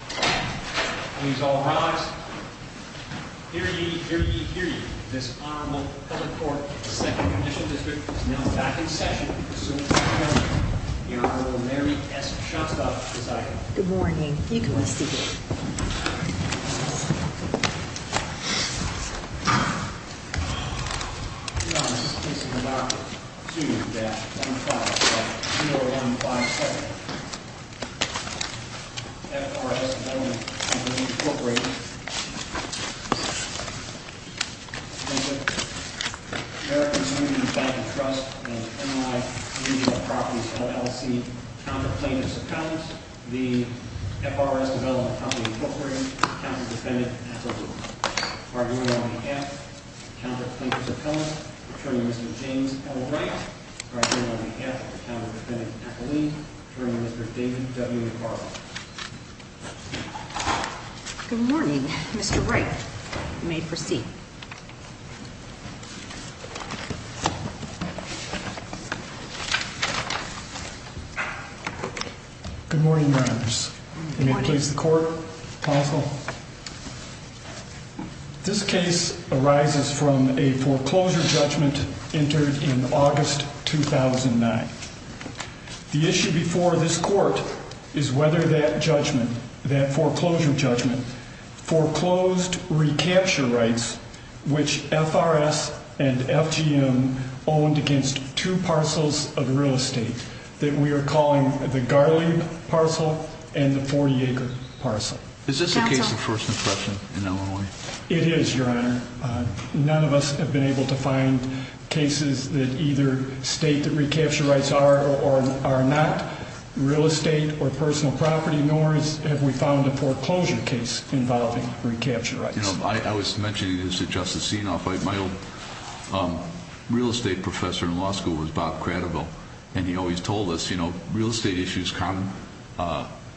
Please all rise. Hear ye, hear ye, hear ye. This Honorable Public Court of the 2nd Commission District is now back in session. The suit is adjourned. The Honorable Mary S. Shostakovich is idle. Good morning. You can rest easy. Your Honor, this case is an article 2-105-0157. F.R.S. Development Co. v. Cooperative America's Union Bank & Trust and M.I. Legal Properties LLC Counter Plaintiffs Appellant The F.R.S. Development Co. v. Cooperative Counter Defendant Appellant Pardon me on behalf of the Counter Plaintiffs Appellant Attorney Mr. James L. Wright Pardon me on behalf of the Counter Defendant Appellant Attorney Mr. David W. Carlson Good morning. Mr. Wright, you may proceed. Good morning, Your Honors. You may please the court. This case arises from a foreclosure judgment entered in August 2009. The issue before this court is whether that foreclosure judgment foreclosed recapture rights which F.R.S. and F.G.M. owned against two parcels of real estate that we are calling the Garley parcel and the Fort Yager parcel. Is this a case of first impression in Illinois? It is, Your Honor. None of us have been able to find cases that either state that recapture rights are or are not real estate or personal property nor have we found a foreclosure case involving recapture rights. You know, I was mentioning this to Justice Sienoff. My old real estate professor in law school was Bob Cradoville and he always told us, you know, real estate issues come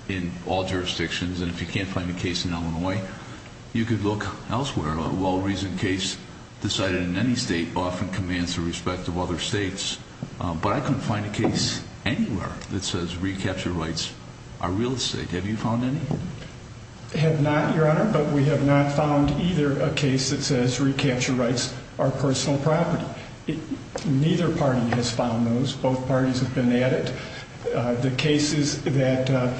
in all jurisdictions and if you can't find a case in Illinois, you could look elsewhere. A well-reasoned case decided in any state often commands the respect of other states, but I couldn't find a case anywhere that says recapture rights are real estate. Have you found any? Have not, Your Honor, but we have not found either a case that says recapture rights are personal property. Neither party has found those. Both parties have been at it. The cases that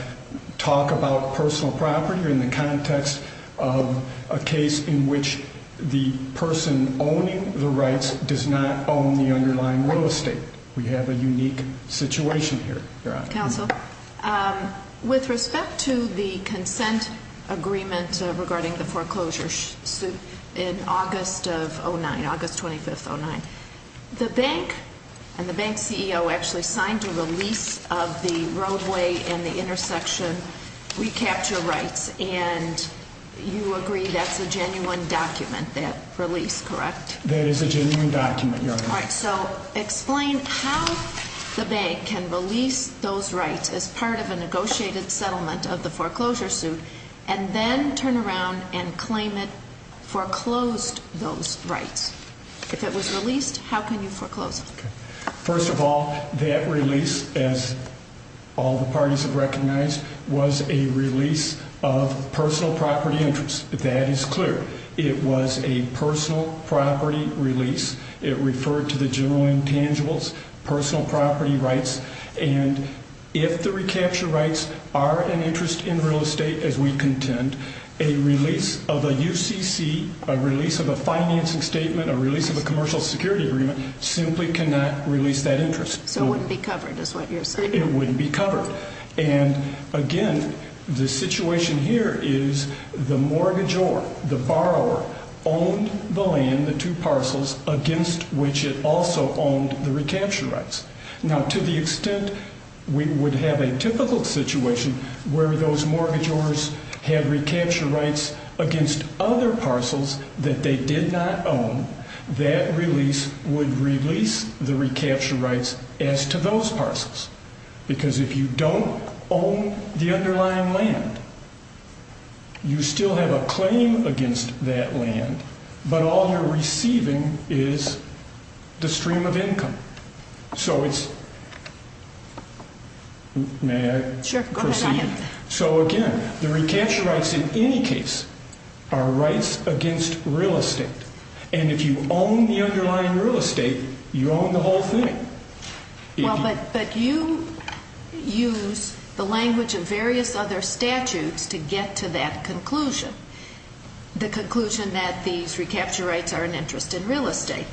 talk about personal property are in the context of a case in which the person owning the rights does not own the underlying real estate. We have a unique situation here, Your Honor. Counsel, with respect to the consent agreement regarding the foreclosure suit in August of 2009, August 25, 2009, the bank and the bank CEO actually signed a release of the roadway and the intersection recapture rights, and you agree that's a genuine document, that release, correct? That is a genuine document, Your Honor. All right, so explain how the bank can release those rights as part of a negotiated settlement of the foreclosure suit and then turn around and claim it foreclosed those rights. If it was released, how can you foreclose it? First of all, that release, as all the parties have recognized, was a release of personal property interests. That is clear. It was a personal property release. It referred to the general intangibles, personal property rights, and if the recapture rights are an interest in real estate as we contend, a release of a UCC, a release of a financing statement, a release of a commercial security agreement simply cannot release that interest. So it wouldn't be covered is what you're saying. It wouldn't be covered. And, again, the situation here is the mortgagor, the borrower, owned the land, the two parcels, against which it also owned the recapture rights. Now, to the extent we would have a typical situation where those mortgagors have recapture rights against other parcels that they did not own, that release would release the recapture rights as to those parcels because if you don't own the underlying land, you still have a claim against that land, but all you're receiving is the stream of income. So it's – may I proceed? Sure, go ahead. So, again, the recapture rights in any case are rights against real estate, and if you own the underlying real estate, you own the whole thing. Well, but you use the language of various other statutes to get to that conclusion, the conclusion that these recapture rights are an interest in real estate,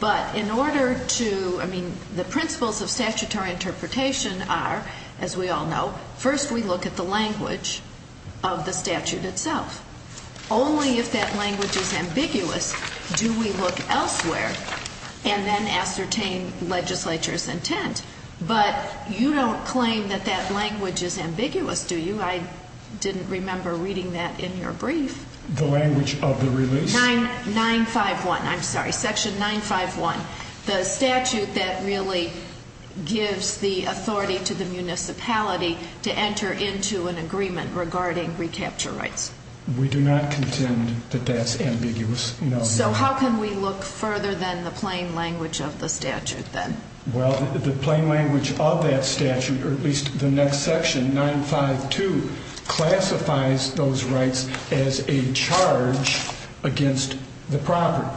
but in order to – I mean, the principles of statutory interpretation are, as we all know, first we look at the language of the statute itself. Only if that language is ambiguous do we look elsewhere and then ascertain legislature's intent. But you don't claim that that language is ambiguous, do you? I didn't remember reading that in your brief. The language of the release? Section 951, I'm sorry, Section 951, the statute that really gives the authority to the municipality to enter into an agreement regarding recapture rights. We do not contend that that's ambiguous, no. So how can we look further than the plain language of the statute then? Well, the plain language of that statute, or at least the next section, 952, classifies those rights as a charge against the property.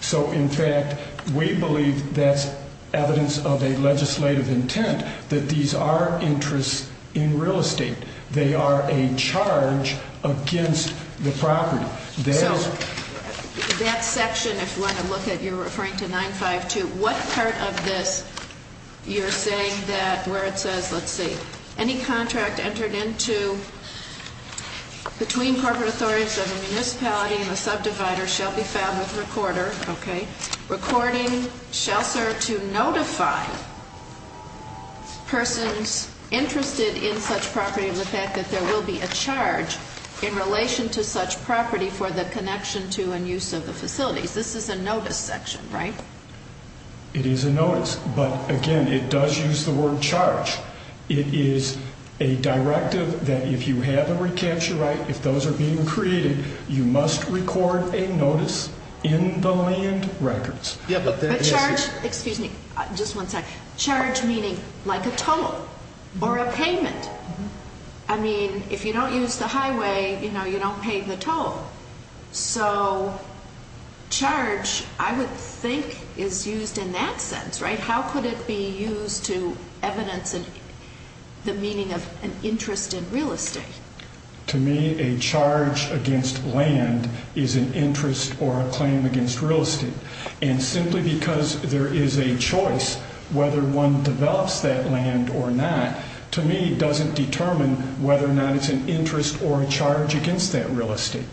So, in fact, we believe that's evidence of a legislative intent, that these are interests in real estate. They are a charge against the property. So that section, if you want to look at it, you're referring to 952. What part of this you're saying that where it says, let's see, any contract entered into between corporate authorities of a municipality and a subdivider shall be filed with recorder, okay, recording shall serve to notify persons interested in such property of the fact that there will be a charge in relation to such property for the connection to and use of the facilities. This is a notice section, right? It is a notice. But, again, it does use the word charge. It is a directive that if you have a recapture right, if those are being created, you must record a notice in the land records. A charge, excuse me, just one second, charge meaning like a toll or a payment. I mean, if you don't use the highway, you know, you don't pay the toll. So charge, I would think, is used in that sense, right? How could it be used to evidence the meaning of an interest in real estate? To me, a charge against land is an interest or a claim against real estate. And simply because there is a choice whether one develops that land or not, to me, doesn't determine whether or not it's an interest or a charge against that real estate.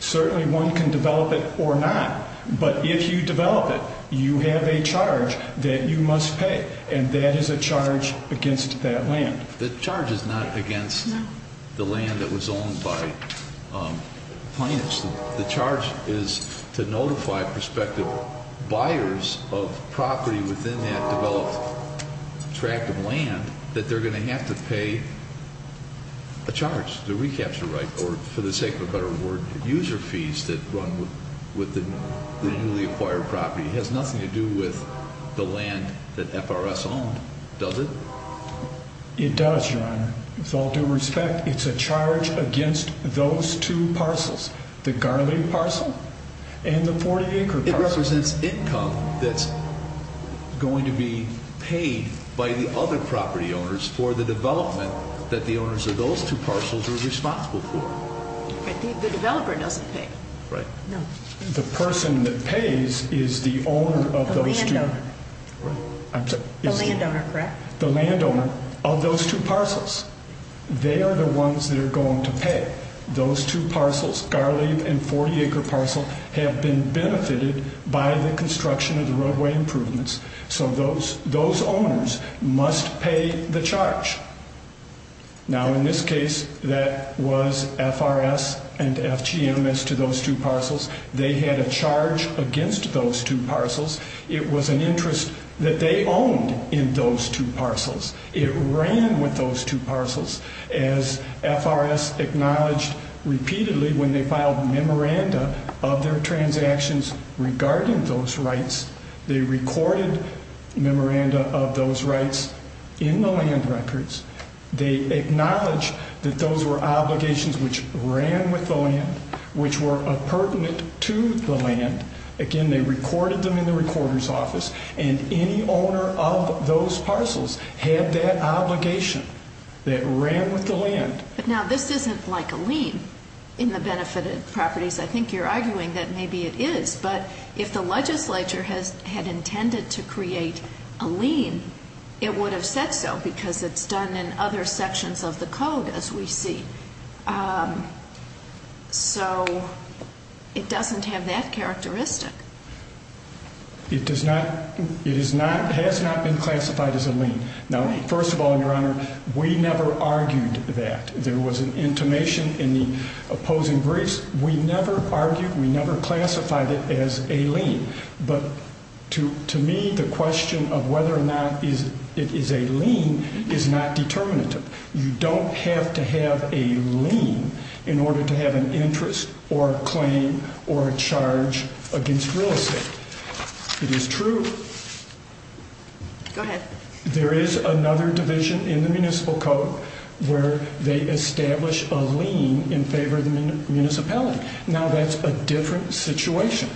Certainly, one can develop it or not. But if you develop it, you have a charge that you must pay, and that is a charge against that land. The charge is not against the land that was owned by plaintiffs. The charge is to notify prospective buyers of property within that developed tract of land that they're going to have to pay a charge, the recapture right, or for the sake of a better word, user fees that run with the newly acquired property. It has nothing to do with the land that FRS owned, does it? It does, Your Honor. With all due respect, it's a charge against those two parcels, the Garland parcel and the 40-acre parcel. It represents income that's going to be paid by the other property owners for the development that the owners of those two parcels are responsible for. The developer doesn't pay. Right. No. The person that pays is the owner of those two. The landowner, correct? The landowner of those two parcels. They are the ones that are going to pay. Those two parcels, Garland and 40-acre parcel, have been benefited by the construction of the roadway improvements, so those owners must pay the charge. Now, in this case, that was FRS and FGM as to those two parcels. They had a charge against those two parcels. It was an interest that they owned in those two parcels. It ran with those two parcels. As FRS acknowledged repeatedly when they filed memoranda of their transactions regarding those rights, they recorded memoranda of those rights in the land records. They acknowledged that those were obligations which ran with the land, which were appurtenant to the land. Again, they recorded them in the recorder's office, and any owner of those parcels had that obligation that ran with the land. But now, this isn't like a lien in the benefited properties. I think you're arguing that maybe it is, but if the legislature had intended to create a lien, it would have said so because it's done in other sections of the code, as we see. So it doesn't have that characteristic. It has not been classified as a lien. Now, first of all, Your Honor, we never argued that. There was an intimation in the opposing briefs. We never argued, we never classified it as a lien. But to me, the question of whether or not it is a lien is not determinative. You don't have to have a lien in order to have an interest or a claim or a charge against real estate. It is true. Go ahead. There is another division in the municipal code where they establish a lien in favor of the municipality. Now, that's a different situation.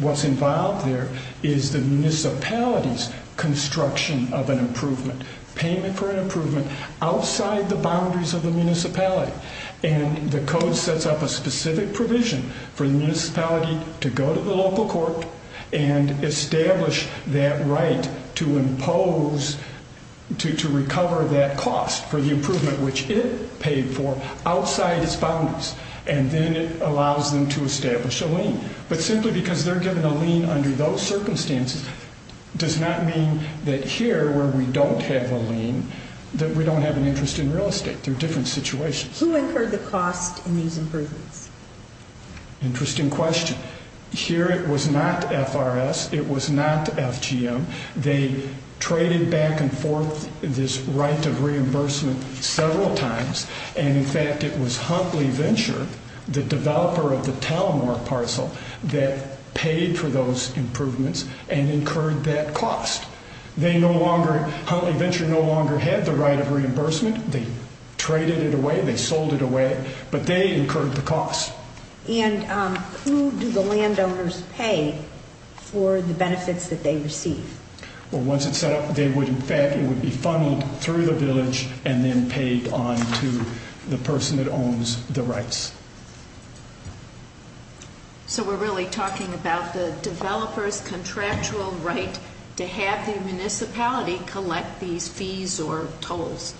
What's involved there is the municipality's construction of an improvement, payment for an improvement outside the boundaries of the municipality, and the code sets up a specific provision for the municipality to go to the local court and establish that right to impose, to recover that cost for the improvement, which it paid for outside its boundaries, and then it allows them to establish a lien. But simply because they're given a lien under those circumstances does not mean that here, where we don't have a lien, that we don't have an interest in real estate. They're different situations. Who incurred the cost in these improvements? Interesting question. Here it was not FRS. It was not FGM. They traded back and forth this right of reimbursement several times, and, in fact, it was Huntley Venture, the developer of the Talamore parcel, that paid for those improvements and incurred that cost. They no longer, Huntley Venture no longer had the right of reimbursement. They traded it away. They sold it away. But they incurred the cost. And who do the landowners pay for the benefits that they receive? Well, once it's set up, they would, in fact, it would be funneled through the village and then paid on to the person that owns the rights. So we're really talking about the developer's contractual right to have the municipality collect these fees or tolls.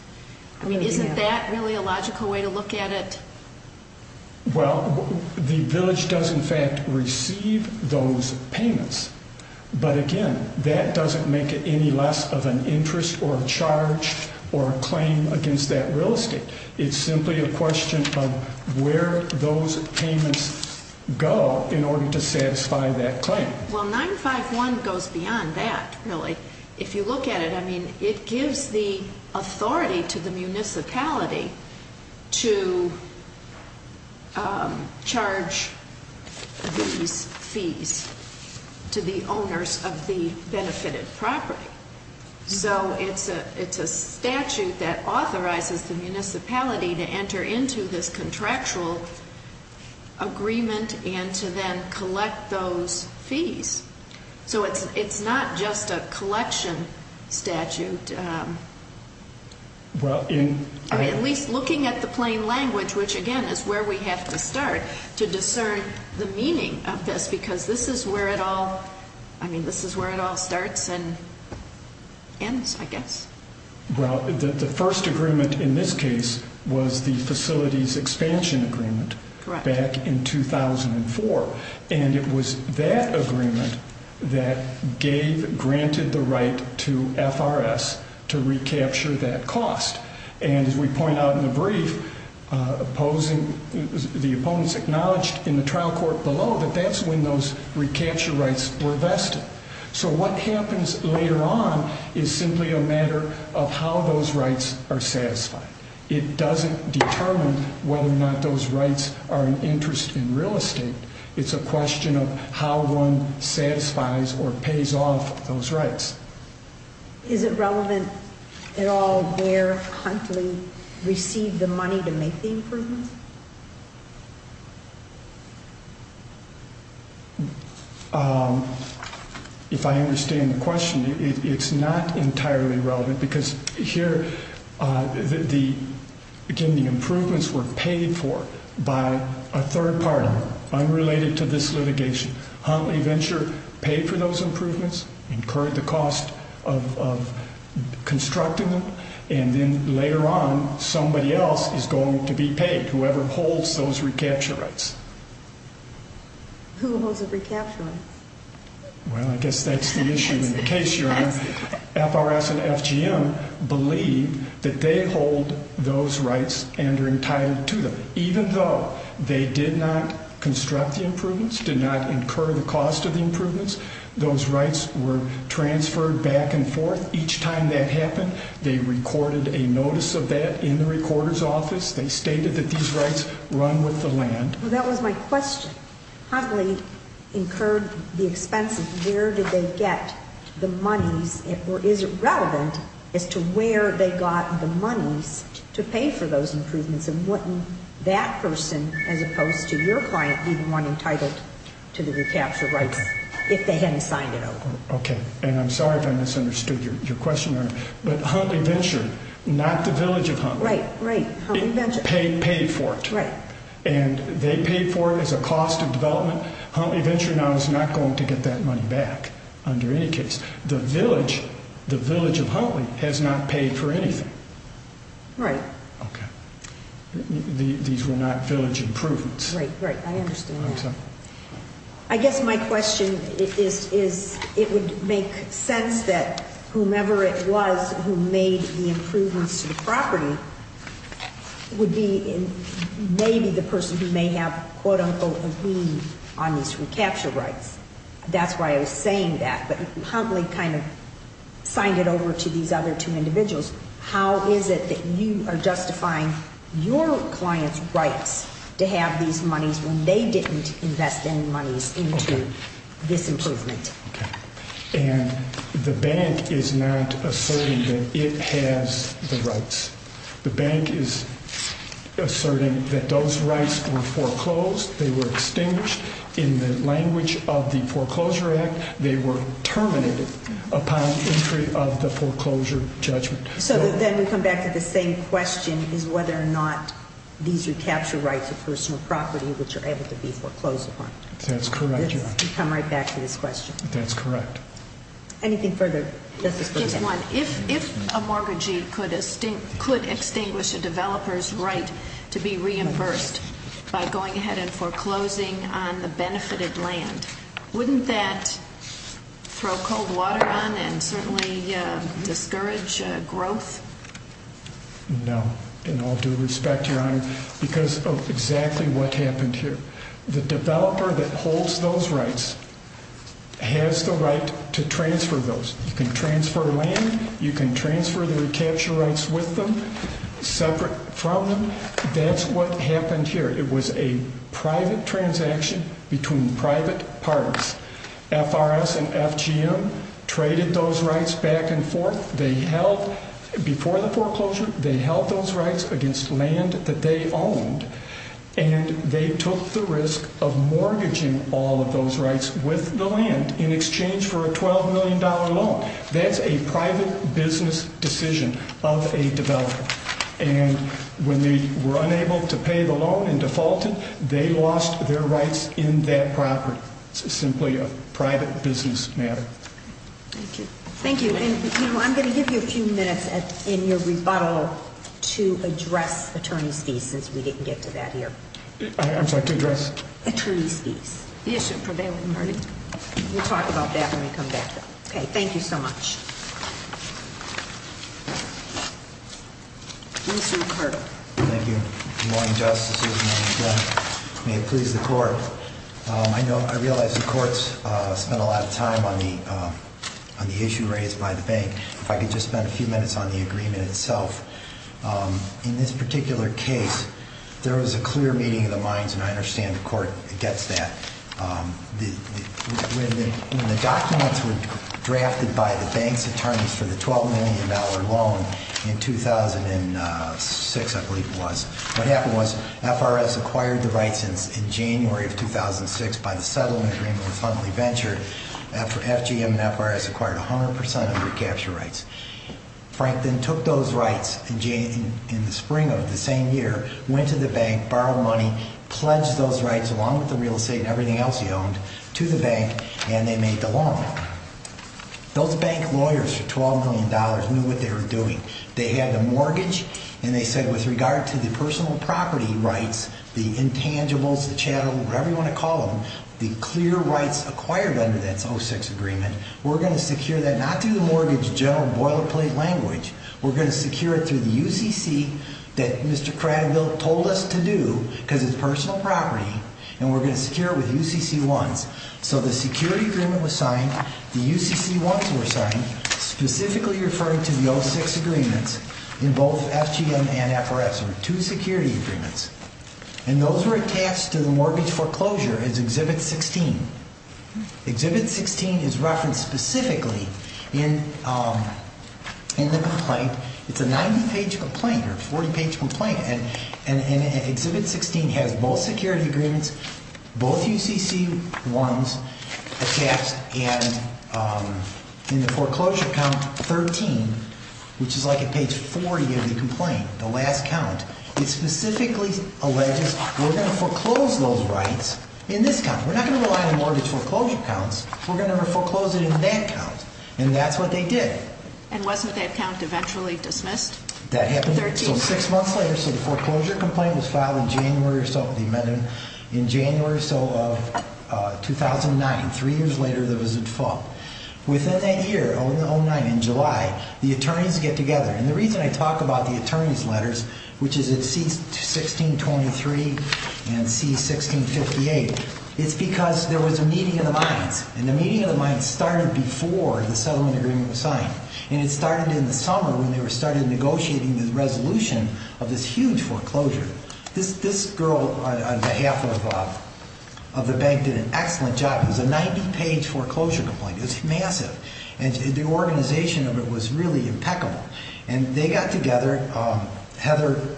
I mean, isn't that really a logical way to look at it? Well, the village does, in fact, receive those payments. But, again, that doesn't make it any less of an interest or a charge or a claim against that real estate. It's simply a question of where those payments go in order to satisfy that claim. Well, 951 goes beyond that, really. If you look at it, I mean, it gives the authority to the municipality to charge these fees to the owners of the benefited property. So it's a statute that authorizes the municipality to enter into this contractual agreement and to then collect those fees. So it's not just a collection statute. I mean, at least looking at the plain language, which, again, is where we have to start to discern the meaning of this because this is where it all starts and ends, I guess. Well, the first agreement in this case was the facilities expansion agreement back in 2004. And it was that agreement that gave granted the right to FRS to recapture that cost. And as we point out in the brief, the opponents acknowledged in the trial court below that that's when those recapture rights were vested. So what happens later on is simply a matter of how those rights are satisfied. It doesn't determine whether or not those rights are an interest in real estate. It's a question of how one satisfies or pays off those rights. Is it relevant at all where Huntley received the money to make the improvements? If I understand the question, it's not entirely relevant because here, again, the improvements were paid for by a third party unrelated to this litigation. Huntley Venture paid for those improvements, incurred the cost of constructing them, and then later on somebody else is going to be paid, whoever holds those recapture rights. Who holds the recapture rights? Well, I guess that's the issue in the case, Your Honor. FRS and FGM believe that they hold those rights and are entitled to them, but even though they did not construct the improvements, did not incur the cost of the improvements, those rights were transferred back and forth. Each time that happened, they recorded a notice of that in the recorder's office. They stated that these rights run with the land. Well, that was my question. Huntley incurred the expense of where did they get the monies, or is it relevant as to where they got the monies to pay for those improvements and wouldn't that person, as opposed to your client, be the one entitled to the recapture rights if they hadn't signed it over? Okay, and I'm sorry if I misunderstood your question, Your Honor, but Huntley Venture, not the village of Huntley, paid for it. And they paid for it as a cost of development. Huntley Venture now is not going to get that money back under any case. The village of Huntley has not paid for anything. Right. Okay. These were not village improvements. Right, right. I understand that. I guess my question is it would make sense that whomever it was who made the improvements to the property would be maybe the person who may have, quote, unquote, a lien on these recapture rights. That's why I was saying that. But Huntley kind of signed it over to these other two individuals. How is it that you are justifying your client's rights to have these monies when they didn't invest any monies into this improvement? Okay. And the bank is not asserting that it has the rights. The bank is asserting that those rights were foreclosed, they were extinguished. In the language of the Foreclosure Act, they were terminated upon entry of the foreclosure judgment. So then we come back to the same question is whether or not these recapture rights of personal property which are able to be foreclosed upon. That's correct, Your Honor. We come right back to this question. That's correct. Anything further? Just one. If a mortgagee could extinguish a developer's right to be reimbursed by going ahead and foreclosing on the benefited land, wouldn't that throw cold water on and certainly discourage growth? No, in all due respect, Your Honor, because of exactly what happened here. The developer that holds those rights has the right to transfer those. You can transfer land. You can transfer the recapture rights with them, separate from them. That's what happened here. It was a private transaction between private parties. FRS and FGM traded those rights back and forth. Before the foreclosure, they held those rights against land that they owned, and they took the risk of mortgaging all of those rights with the land in exchange for a $12 million loan. When they were unable to pay the loan and defaulted, they lost their rights in that property. It's simply a private business matter. Thank you. Thank you. I'm going to give you a few minutes in your rebuttal to address attorney's fees, since we didn't get to that here. I'm sorry, to address? Attorney's fees. The issue prevailed with me. We'll talk about that when we come back, though. Okay, thank you so much. Mr. Carter. Thank you. Good morning, Justices, and may it please the Court. I realize the Court's spent a lot of time on the issue raised by the bank. If I could just spend a few minutes on the agreement itself. In this particular case, there was a clear meeting of the minds, and I understand the Court gets that. When the documents were drafted by the bank's attorneys for the $12 million loan in 2006, I believe it was, what happened was FRS acquired the rights in January of 2006 by the settlement agreement with Huntley Venture. FGM and FRS acquired 100% of the recapture rights. Frank then took those rights in the spring of the same year, went to the bank, borrowed money, pledged those rights along with the real estate and everything else he owned to the bank, and they made the loan. Those bank lawyers for $12 million knew what they were doing. They had the mortgage, and they said with regard to the personal property rights, the intangibles, the chattel, whatever you want to call them, the clear rights acquired under that 2006 agreement, we're going to secure that not through the mortgage general boilerplate language. We're going to secure it through the UCC that Mr. Cranville told us to do because it's personal property, and we're going to secure it with UCC-1s. So the security agreement was signed. The UCC-1s were signed, specifically referring to the 06 agreements in both FGM and FRS, or two security agreements, and those were attached to the mortgage foreclosure as Exhibit 16. Exhibit 16 is referenced specifically in the complaint. It's a 90-page complaint or a 40-page complaint, and Exhibit 16 has both security agreements, both UCC-1s attached, and in the foreclosure count, 13, which is like a page 40 of the complaint, the last count. It specifically alleges we're going to foreclose those rights in this count. We're not going to rely on the mortgage foreclosure counts. We're going to foreclose it in that count, and that's what they did. And wasn't that count eventually dismissed? That happened six months later, so the foreclosure complaint was filed in January or so, the amendment in January or so of 2009, three years later, there was a default. Within that year, in 2009, in July, the attorneys get together, and the reason I talk about the attorneys' letters, which is at C-1623 and C-1658, it's because there was a meeting of the minds, and the meeting of the minds started before the settlement agreement was signed, and it started in the summer when they started negotiating the resolution of this huge foreclosure. This girl, on behalf of the bank, did an excellent job. It was a 90-page foreclosure complaint. It was massive, and the organization of it was really impeccable. And they got together, Heather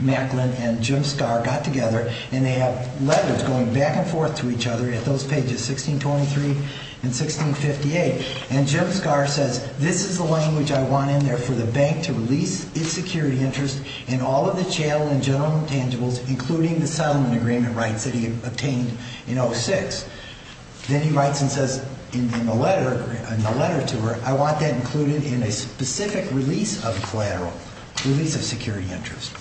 Macklin and Jim Scarr got together, and they have letters going back and forth to each other at those pages, C-1623 and C-1658, and Jim Scarr says, this is the language I want in there for the bank to release its security interest in all of the channel and general intangibles, including the settlement agreement rights that he obtained in 2006. Then he writes and says in the letter, in the letter to her, I want that included in a specific release of collateral, release of security interest.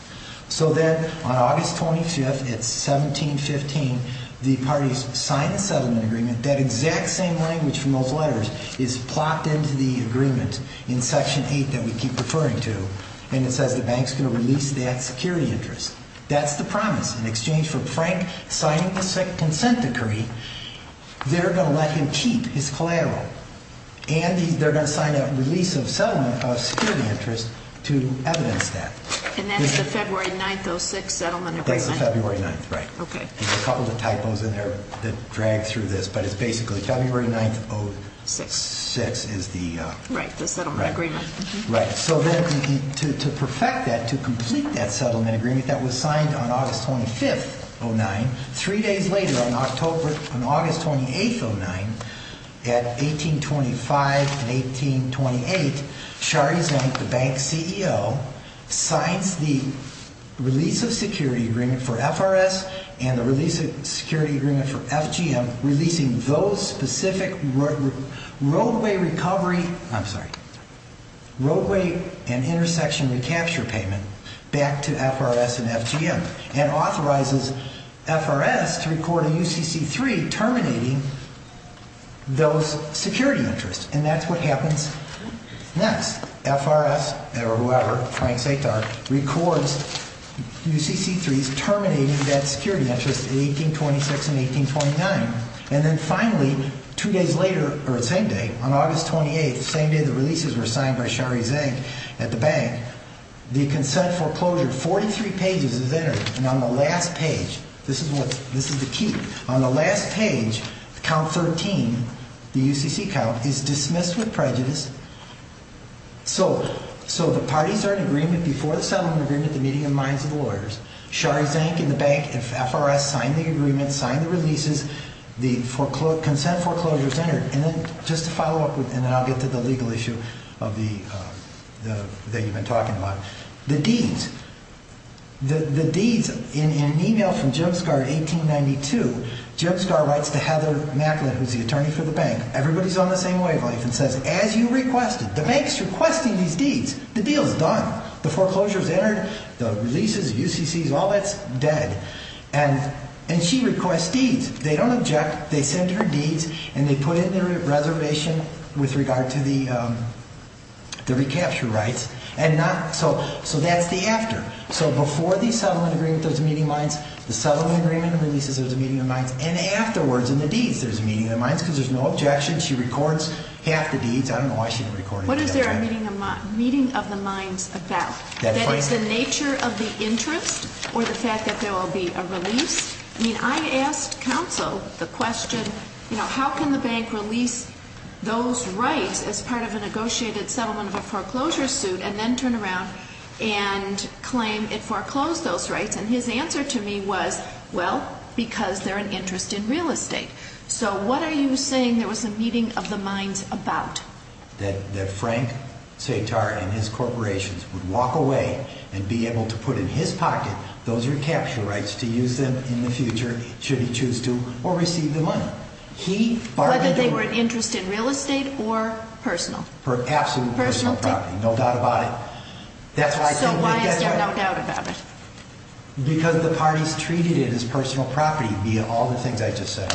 So then on August 25th at 1715, the parties sign the settlement agreement. That exact same language from those letters is plopped into the agreement in Section 8 that we keep referring to, and it says the bank's going to release that security interest. That's the promise. In exchange for Frank signing the consent decree, they're going to let him keep his collateral, and they're going to sign a release of settlement of security interest to evidence that. And that's the February 9th, 06, settlement agreement? That's the February 9th, right. Okay. There's a couple of typos in there that drag through this, but it's basically February 9th, 06 is the... Right, the settlement agreement. Right. So then to perfect that, to complete that settlement agreement that was signed on August 25th, 09, three days later on August 28th, 09, at 1825 and 1828, Shari Zank, the bank's CEO, signs the release of security agreement for FRS and the release of security agreement for FGM, releasing those specific roadway recovery, I'm sorry, roadway and intersection recapture payment back to FRS and FGM, and authorizes FRS to record a UCC-3 terminating those security interests. And that's what happens next. FRS, or whoever, Frank Satar, records UCC-3s terminating that security interest in 1826 and 1829. And then finally, two days later, or the same day, on August 28th, the same day the releases were signed by Shari Zank at the bank, the consent foreclosure, 43 pages is entered, and on the last page, this is the key, on the last page, count 13, the UCC count, is dismissed with prejudice. So the parties are in agreement before the settlement agreement, the meeting of minds of the lawyers. Shari Zank and the bank, FRS signed the agreement, signed the releases, the consent foreclosure is entered. And then just to follow up, and then I'll get to the legal issue that you've been talking about, the deeds, the deeds, in an email from Jim Scar in 1892, Jim Scar writes to Heather Macklin, who's the attorney for the bank, everybody's on the same wavelength, and says, as you requested, the bank's requesting these deeds, the deal's done, the foreclosure's entered, the releases, UCCs, all that's dead. And she requests deeds, they don't object, they send her deeds, and they put it in a reservation with regard to the recapture rights. So that's the after. So before the settlement agreement, there's a meeting of minds, the settlement agreement releases, there's a meeting of minds, and afterwards in the deeds, there's a meeting of minds, because there's no objection, she records half the deeds, I don't know why she didn't record it. What is there a meeting of the minds about? That it's the nature of the interest, or the fact that there will be a release? I mean, I asked counsel the question, you know, how can the bank release those rights as part of a negotiated settlement of a foreclosure suit, and then turn around and claim it foreclosed those rights, and his answer to me was, well, because they're an interest in real estate. So what are you saying there was a meeting of the minds about? That Frank Setar and his corporations would walk away and be able to put in his pocket those recapture rights to use them in the future, should he choose to, or receive the money. Whether they were an interest in real estate or personal? Absolute personal property, no doubt about it. So why is there no doubt about it? Because the parties treated it as personal property, via all the things I just said.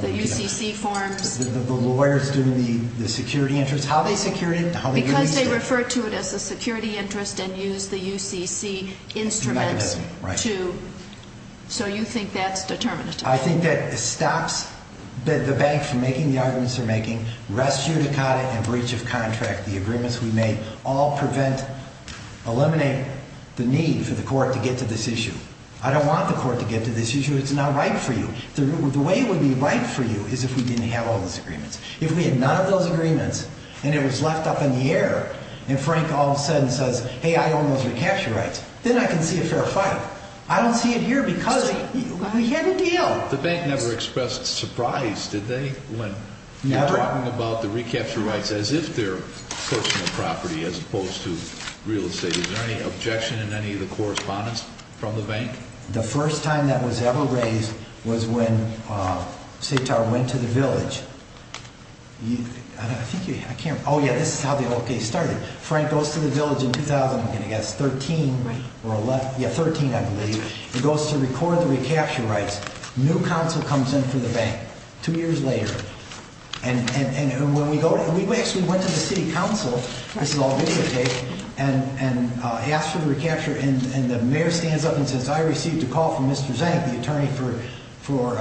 The UCC forms? The lawyers doing the security interest, how they secured it, how they used it. Because they referred to it as a security interest and used the UCC instruments to, so you think that's determinative? I think that stops the bank from making the arguments they're making, res judicata and breach of contract, the agreements we made, all prevent, eliminate the need for the court to get to this issue. I don't want the court to get to this issue. It's not right for you. The way it would be right for you is if we didn't have all those agreements. If we had none of those agreements, and it was left up in the air, and Frank all of a sudden says, hey, I own those recapture rights, then I can see a fair fight. I don't see it here because we had a deal. The bank never expressed surprise, did they? Never. When you're talking about the recapture rights as if they're personal property as opposed to real estate. Is there any objection in any of the correspondence from the bank? The first time that was ever raised was when Sitar went to the village. I think you, I can't, oh, yeah, this is how the whole case started. Frank goes to the village in 2000, I'm going to guess, 13. Yeah, 13, I believe. He goes to record the recapture rights. New council comes in for the bank. Two years later. And when we go, we actually went to the city council, this is all videotape, and asked for the recapture, and the mayor stands up and says, I received a call from Mr. Zank, the attorney for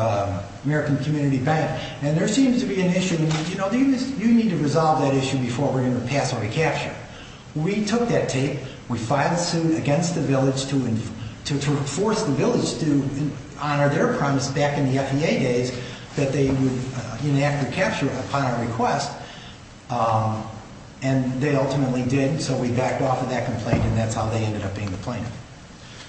American Community Bank, and there seems to be an issue. You need to resolve that issue before we're going to pass a recapture. We took that tape. We filed a suit against the village to enforce the village to honor their promise back in the FEA days that they would enact the capture upon our request, and they ultimately did, so we backed off of that complaint, and that's how they ended up being the plaintiff.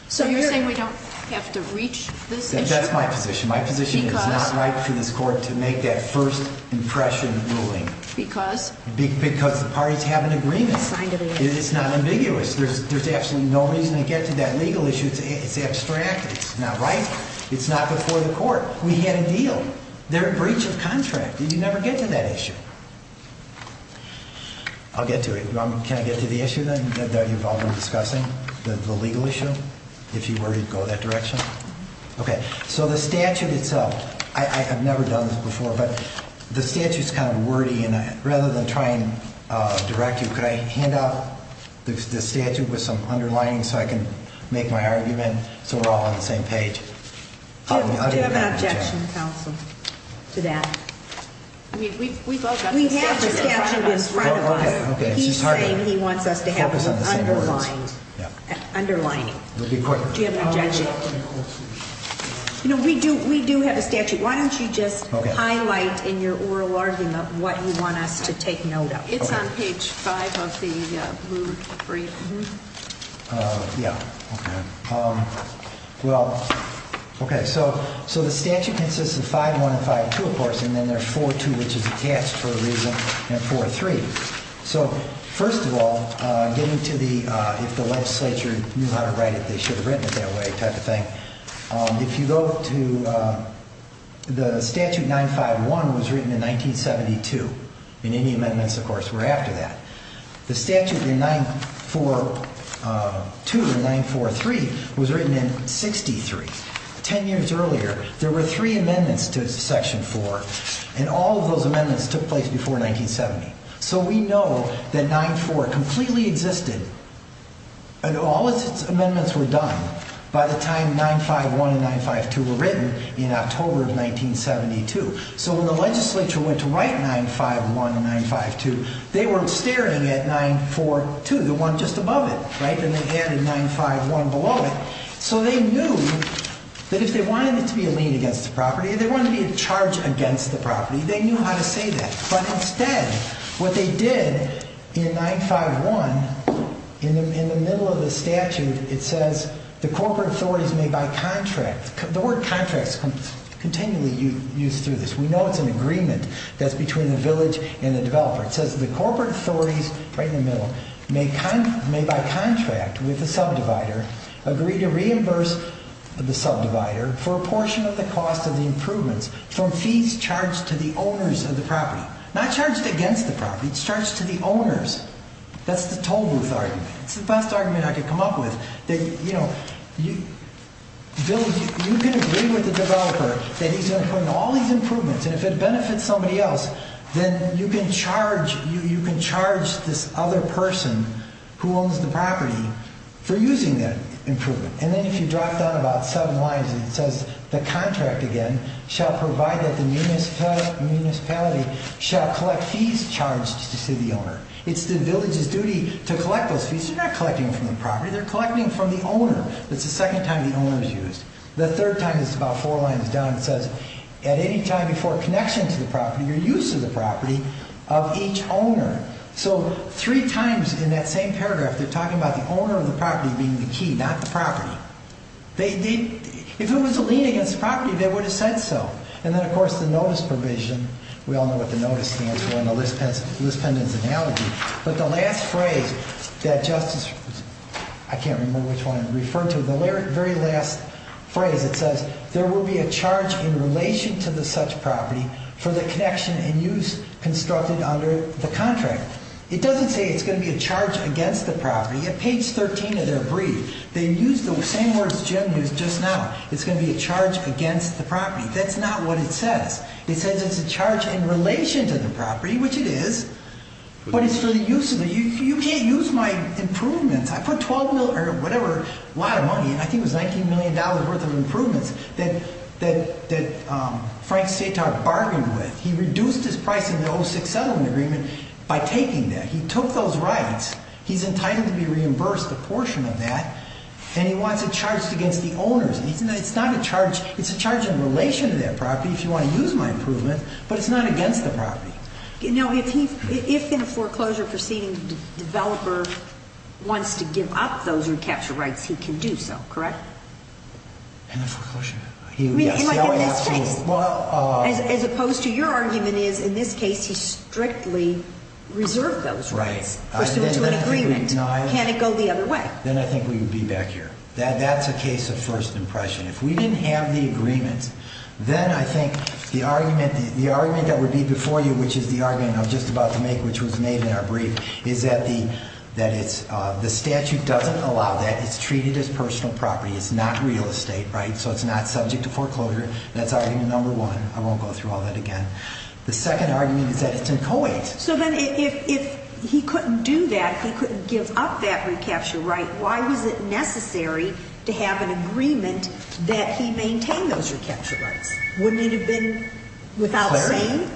So you're saying we don't have to reach this issue? That's my position. My position is it's not right for this court to make that first impression ruling. Because? Because the parties have an agreement. It's not ambiguous. There's absolutely no reason to get to that legal issue. It's abstract. It's not right. It's not before the court. We had a deal. They're in breach of contract. You never get to that issue. I'll get to it. Can I get to the issue then that you've all been discussing, the legal issue, if you were to go that direction? Okay. So the statute itself, I've never done this before, but the statute's kind of wordy, and rather than try and direct you, could I hand out the statute with some underlining so I can make my argument so we're all on the same page? Do you have an objection, counsel, to that? We've both got the statute in front of us. We have the statute in front of us. He's saying he wants us to have it underlined. Do you have an objection? You know, we do have a statute. Why don't you just highlight in your oral argument what you want us to take note of? It's on page 5 of the blue brief. Yeah. Okay. Well, okay, so the statute consists of 5-1 and 5-2, of course, and then there's 4-2, which is attached for a reason, and 4-3. So first of all, getting to the if the legislature knew how to write it, they should have written it that way type of thing, If you go to the statute 9-5-1 was written in 1972, and any amendments, of course, were after that. The statute in 9-4-2 and 9-4-3 was written in 63. Ten years earlier, there were three amendments to Section 4, and all of those amendments took place before 1970. So we know that 9-4 completely existed, and all its amendments were done by the time 9-5-1 and 9-5-2 were written in October of 1972. So when the legislature went to write 9-5-1 and 9-5-2, they were staring at 9-4-2, the one just above it, right? And they added 9-5-1 below it. So they knew that if they wanted it to be a lien against the property, if they wanted it to be a charge against the property, they knew how to say that. But instead, what they did in 9-5-1, in the middle of the statute, it says, the corporate authorities may by contract, the word contracts is continually used through this. We know it's an agreement that's between the village and the developer. It says, the corporate authorities, right in the middle, may by contract with the subdivider agree to reimburse the subdivider for a portion of the cost of the improvements from fees charged to the owners of the property. Not charged against the property, charged to the owners. That's the toll booth argument. It's the best argument I could come up with. You can agree with the developer that he's going to put in all these improvements and if it benefits somebody else, then you can charge this other person who owns the property for using that improvement. And then if you drop down about seven lines, it says, the contract again shall provide that the municipality shall collect fees charged to the owner. It's the village's duty to collect those fees. They're not collecting from the property, they're collecting from the owner. That's the second time the owner is used. The third time is about four lines down, it says, at any time before connection to the property, your use of the property of each owner. So three times in that same paragraph, they're talking about the owner of the property being the key, not the property. If it was a lien against the property, they would have said so. And then, of course, the notice provision. We all know what the notice stands for and the list pendant's analogy. But the last phrase that Justice, I can't remember which one I referred to, the very last phrase, it says, there will be a charge in relation to the such property for the connection and use constructed under the contract. It doesn't say it's going to be a charge against the property. At page 13 of their brief, they use the same words Jim used just now. It's going to be a charge against the property. That's not what it says. It says it's a charge in relation to the property, which it is, but it's for the use of it. You can't use my improvements. I put $12 million or whatever, a lot of money, I think it was $19 million worth of improvements, that Frank Setar bargained with. He reduced his price in the 06 settlement agreement by taking that. He took those rights. He's entitled to be reimbursed a portion of that, and he wants it charged against the owners. It's not a charge. It's a charge in relation to that property if you want to use my improvement, but it's not against the property. Now, if in a foreclosure proceeding the developer wants to give up those recapture rights, he can do so, correct? In a foreclosure? In this case. As opposed to your argument is in this case he strictly reserved those rights. As opposed to an agreement. Can it go the other way? Then I think we would be back here. That's a case of first impression. If we didn't have the agreement, then I think the argument that would be before you, which is the argument I was just about to make, which was made in our brief, is that the statute doesn't allow that. It's treated as personal property. It's not real estate, right? So it's not subject to foreclosure. That's argument number one. I won't go through all that again. The second argument is that it's in co-agents. So then if he couldn't do that, he couldn't give up that recapture right, why was it necessary to have an agreement that he maintain those recapture rights? Wouldn't it have been without saying?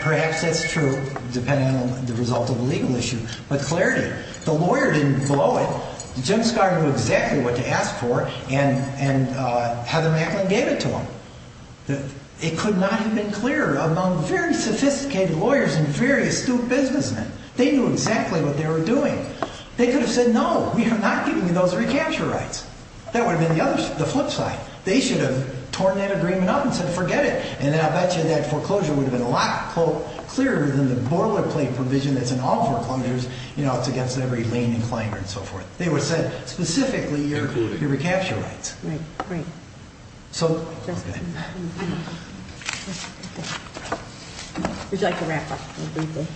Perhaps that's true depending on the result of a legal issue. But clarity. The lawyer didn't blow it. Jim Scott knew exactly what to ask for, and Heather Macklin gave it to him. It could not have been clearer among very sophisticated lawyers and very astute businessmen. They knew exactly what they were doing. They could have said, no, we are not giving you those recapture rights. That would have been the flip side. They should have torn that agreement up and said forget it, and then I bet you that foreclosure would have been a lot clearer than the boilerplate provision that's in all foreclosures. You know, it's against every lane and climber and so forth. They would have said specifically your recapture rights. Right, right. Would you like to wrap up briefly?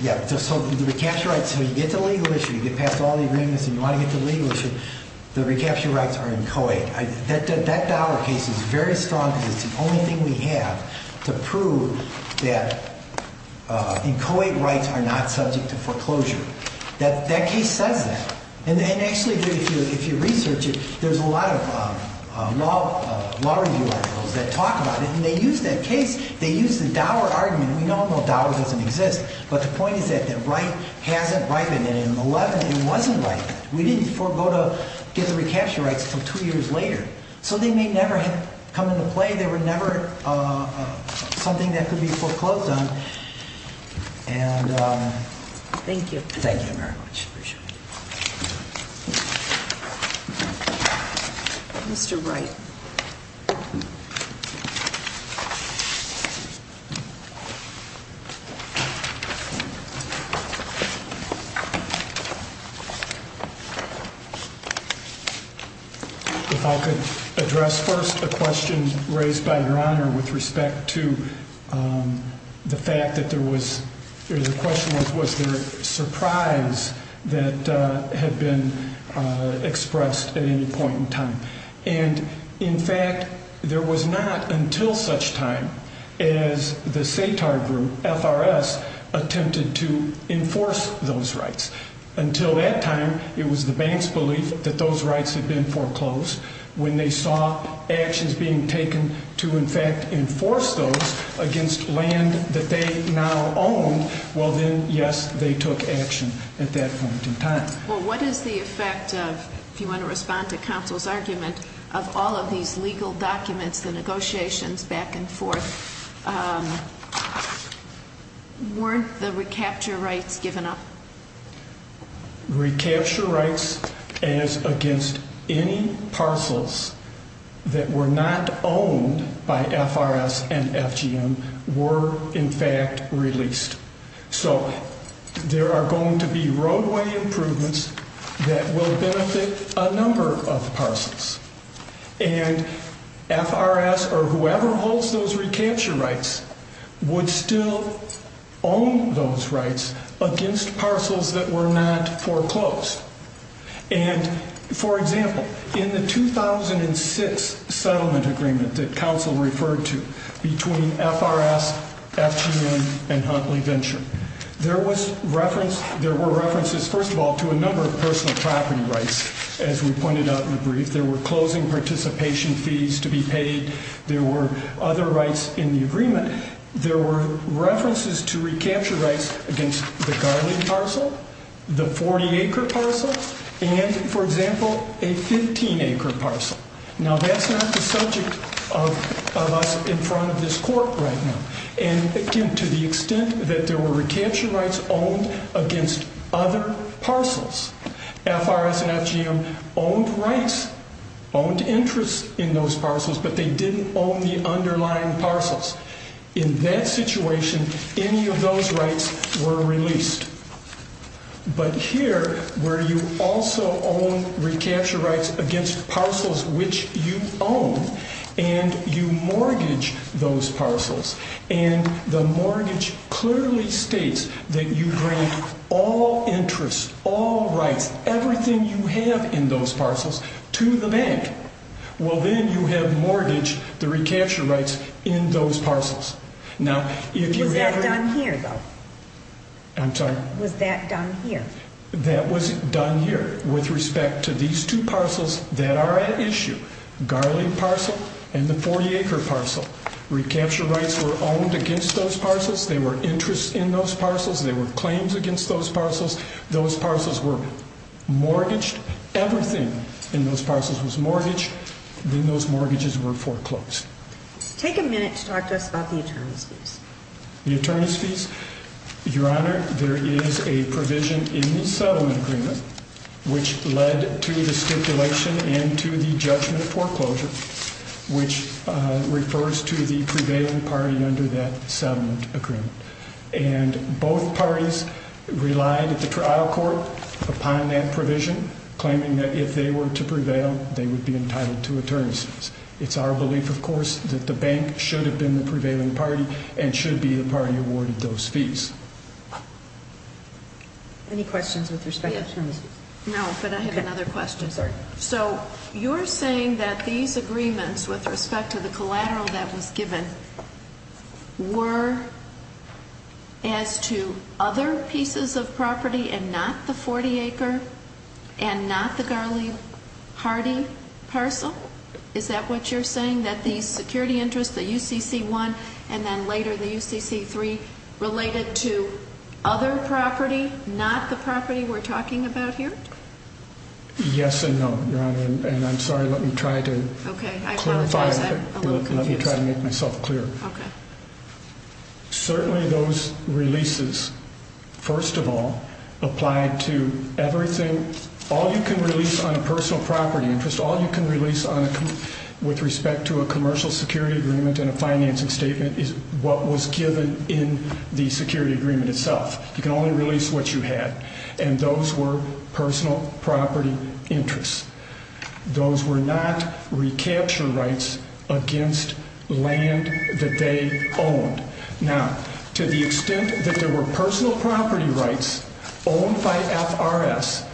Yeah, so the recapture rights, when you get to the legal issue, you get past all the agreements and you want to get to the legal issue, the recapture rights are inchoate. That dollar case is very strong because it's the only thing we have to prove that inchoate rights are not subject to foreclosure. That case says that. And actually, if you research it, there's a lot of law review articles that talk about it, and they use that case, they use the dollar argument. We know the dollar doesn't exist, but the point is that the right hasn't righted it in 11 and it wasn't righted it. We didn't forego to get the recapture rights until two years later. So they may never have come into play. They were never something that could be foreclosed on. Thank you. Thank you very much. I appreciate it. Mr. Wright. If I could address first a question raised by Your Honor with respect to the fact that there was a question was there a surprise that had been expressed at any point in time. And, in fact, there was not until such time as the SATAR group, FRS, attempted to enforce those rights. Until that time, it was the bank's belief that those rights had been foreclosed. When they saw actions being taken to, in fact, enforce those against land that they now own, well then, yes, they took action at that point in time. Well, what is the effect of, if you want to respond to counsel's argument, of all of these legal documents, the negotiations back and forth? Weren't the recapture rights given up? Recapture rights as against any parcels that were not owned by FRS and FGM were, in fact, released. So there are going to be roadway improvements that will benefit a number of parcels. And FRS or whoever holds those recapture rights would still own those rights against parcels that were not foreclosed. And, for example, in the 2006 settlement agreement that counsel referred to between FRS, FGM, and Huntley Venture, there were references, first of all, to a number of personal property rights, as we pointed out in the brief. There were closing participation fees to be paid. There were other rights in the agreement. There were references to recapture rights against the Garland parcel, the 40-acre parcel, and, for example, a 15-acre parcel. Now, that's not the subject of us in front of this court right now. And, again, to the extent that there were recapture rights owned against other parcels, FRS and FGM owned rights, owned interests in those parcels, but they didn't own the underlying parcels. In that situation, any of those rights were released. But here, where you also own recapture rights against parcels which you own and you mortgage those parcels, and the mortgage clearly states that you grant all interests, all rights, everything you have in those parcels to the bank, well, then you have mortgaged the recapture rights in those parcels. Was that done here, though? I'm sorry? Was that done here? That was done here with respect to these two parcels that are at issue, Garland parcel and the 40-acre parcel. Recapture rights were owned against those parcels. They were interests in those parcels. They were claims against those parcels. Those parcels were mortgaged. Everything in those parcels was mortgaged. Then those mortgages were foreclosed. Take a minute to talk to us about the attorneys' fees. The attorneys' fees? Your Honor, there is a provision in the settlement agreement which led to the stipulation and to the judgment foreclosure, which refers to the prevailing party under that settlement agreement. And both parties relied at the trial court upon that provision, claiming that if they were to prevail, they would be entitled to attorneys' fees. It's our belief, of course, that the bank should have been the prevailing party and should be the party awarded those fees. Any questions with respect to attorneys' fees? No, but I have another question. I'm sorry. So you're saying that these agreements with respect to the collateral that was given were as to other pieces of property and not the 40-acre and not the Garley-Hardy parcel? Is that what you're saying, that these security interests, the UCC-1, and then later the UCC-3, related to other property, not the property we're talking about here? Yes and no, Your Honor. And I'm sorry. Let me try to clarify. I apologize. I'm a little confused. Let me try to make myself clear. Certainly those releases, first of all, applied to everything. All you can release on a personal property interest, all you can release with respect to a commercial security agreement and a financing statement is what was given in the security agreement itself. You can only release what you had. And those were personal property interests. Those were not recapture rights against land that they owned. Now, to the extent that there were personal property rights owned by FRS,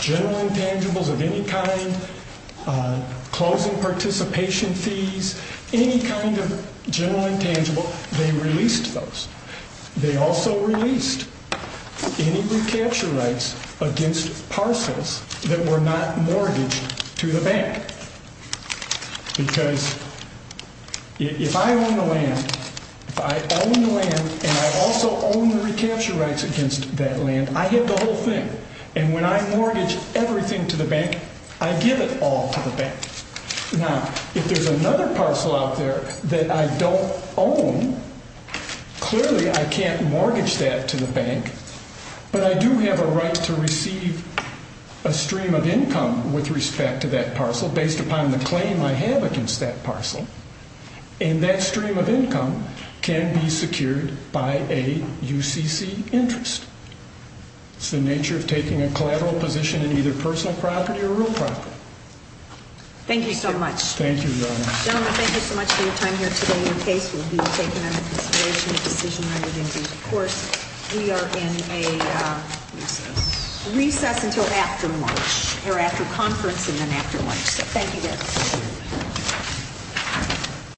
general intangibles of any kind, closing participation fees, any kind of general intangible, they released those. They also released any recapture rights against parcels that were not mortgaged to the bank. Because if I own the land, if I own the land and I also own the recapture rights against that land, I have the whole thing. And when I mortgage everything to the bank, I give it all to the bank. Now, if there's another parcel out there that I don't own, clearly I can't mortgage that to the bank, but I do have a right to receive a stream of income with respect to that parcel based upon the claim I have against that parcel. And that stream of income can be secured by a UCC interest. It's the nature of taking a collateral position in either personal property or real property. Thank you so much. Thank you, Your Honor. Gentlemen, thank you so much for your time here today. Your case will be taken under consideration at decision-writing. And, of course, we are in a recess until after lunch, or after conference and then after lunch. So thank you again.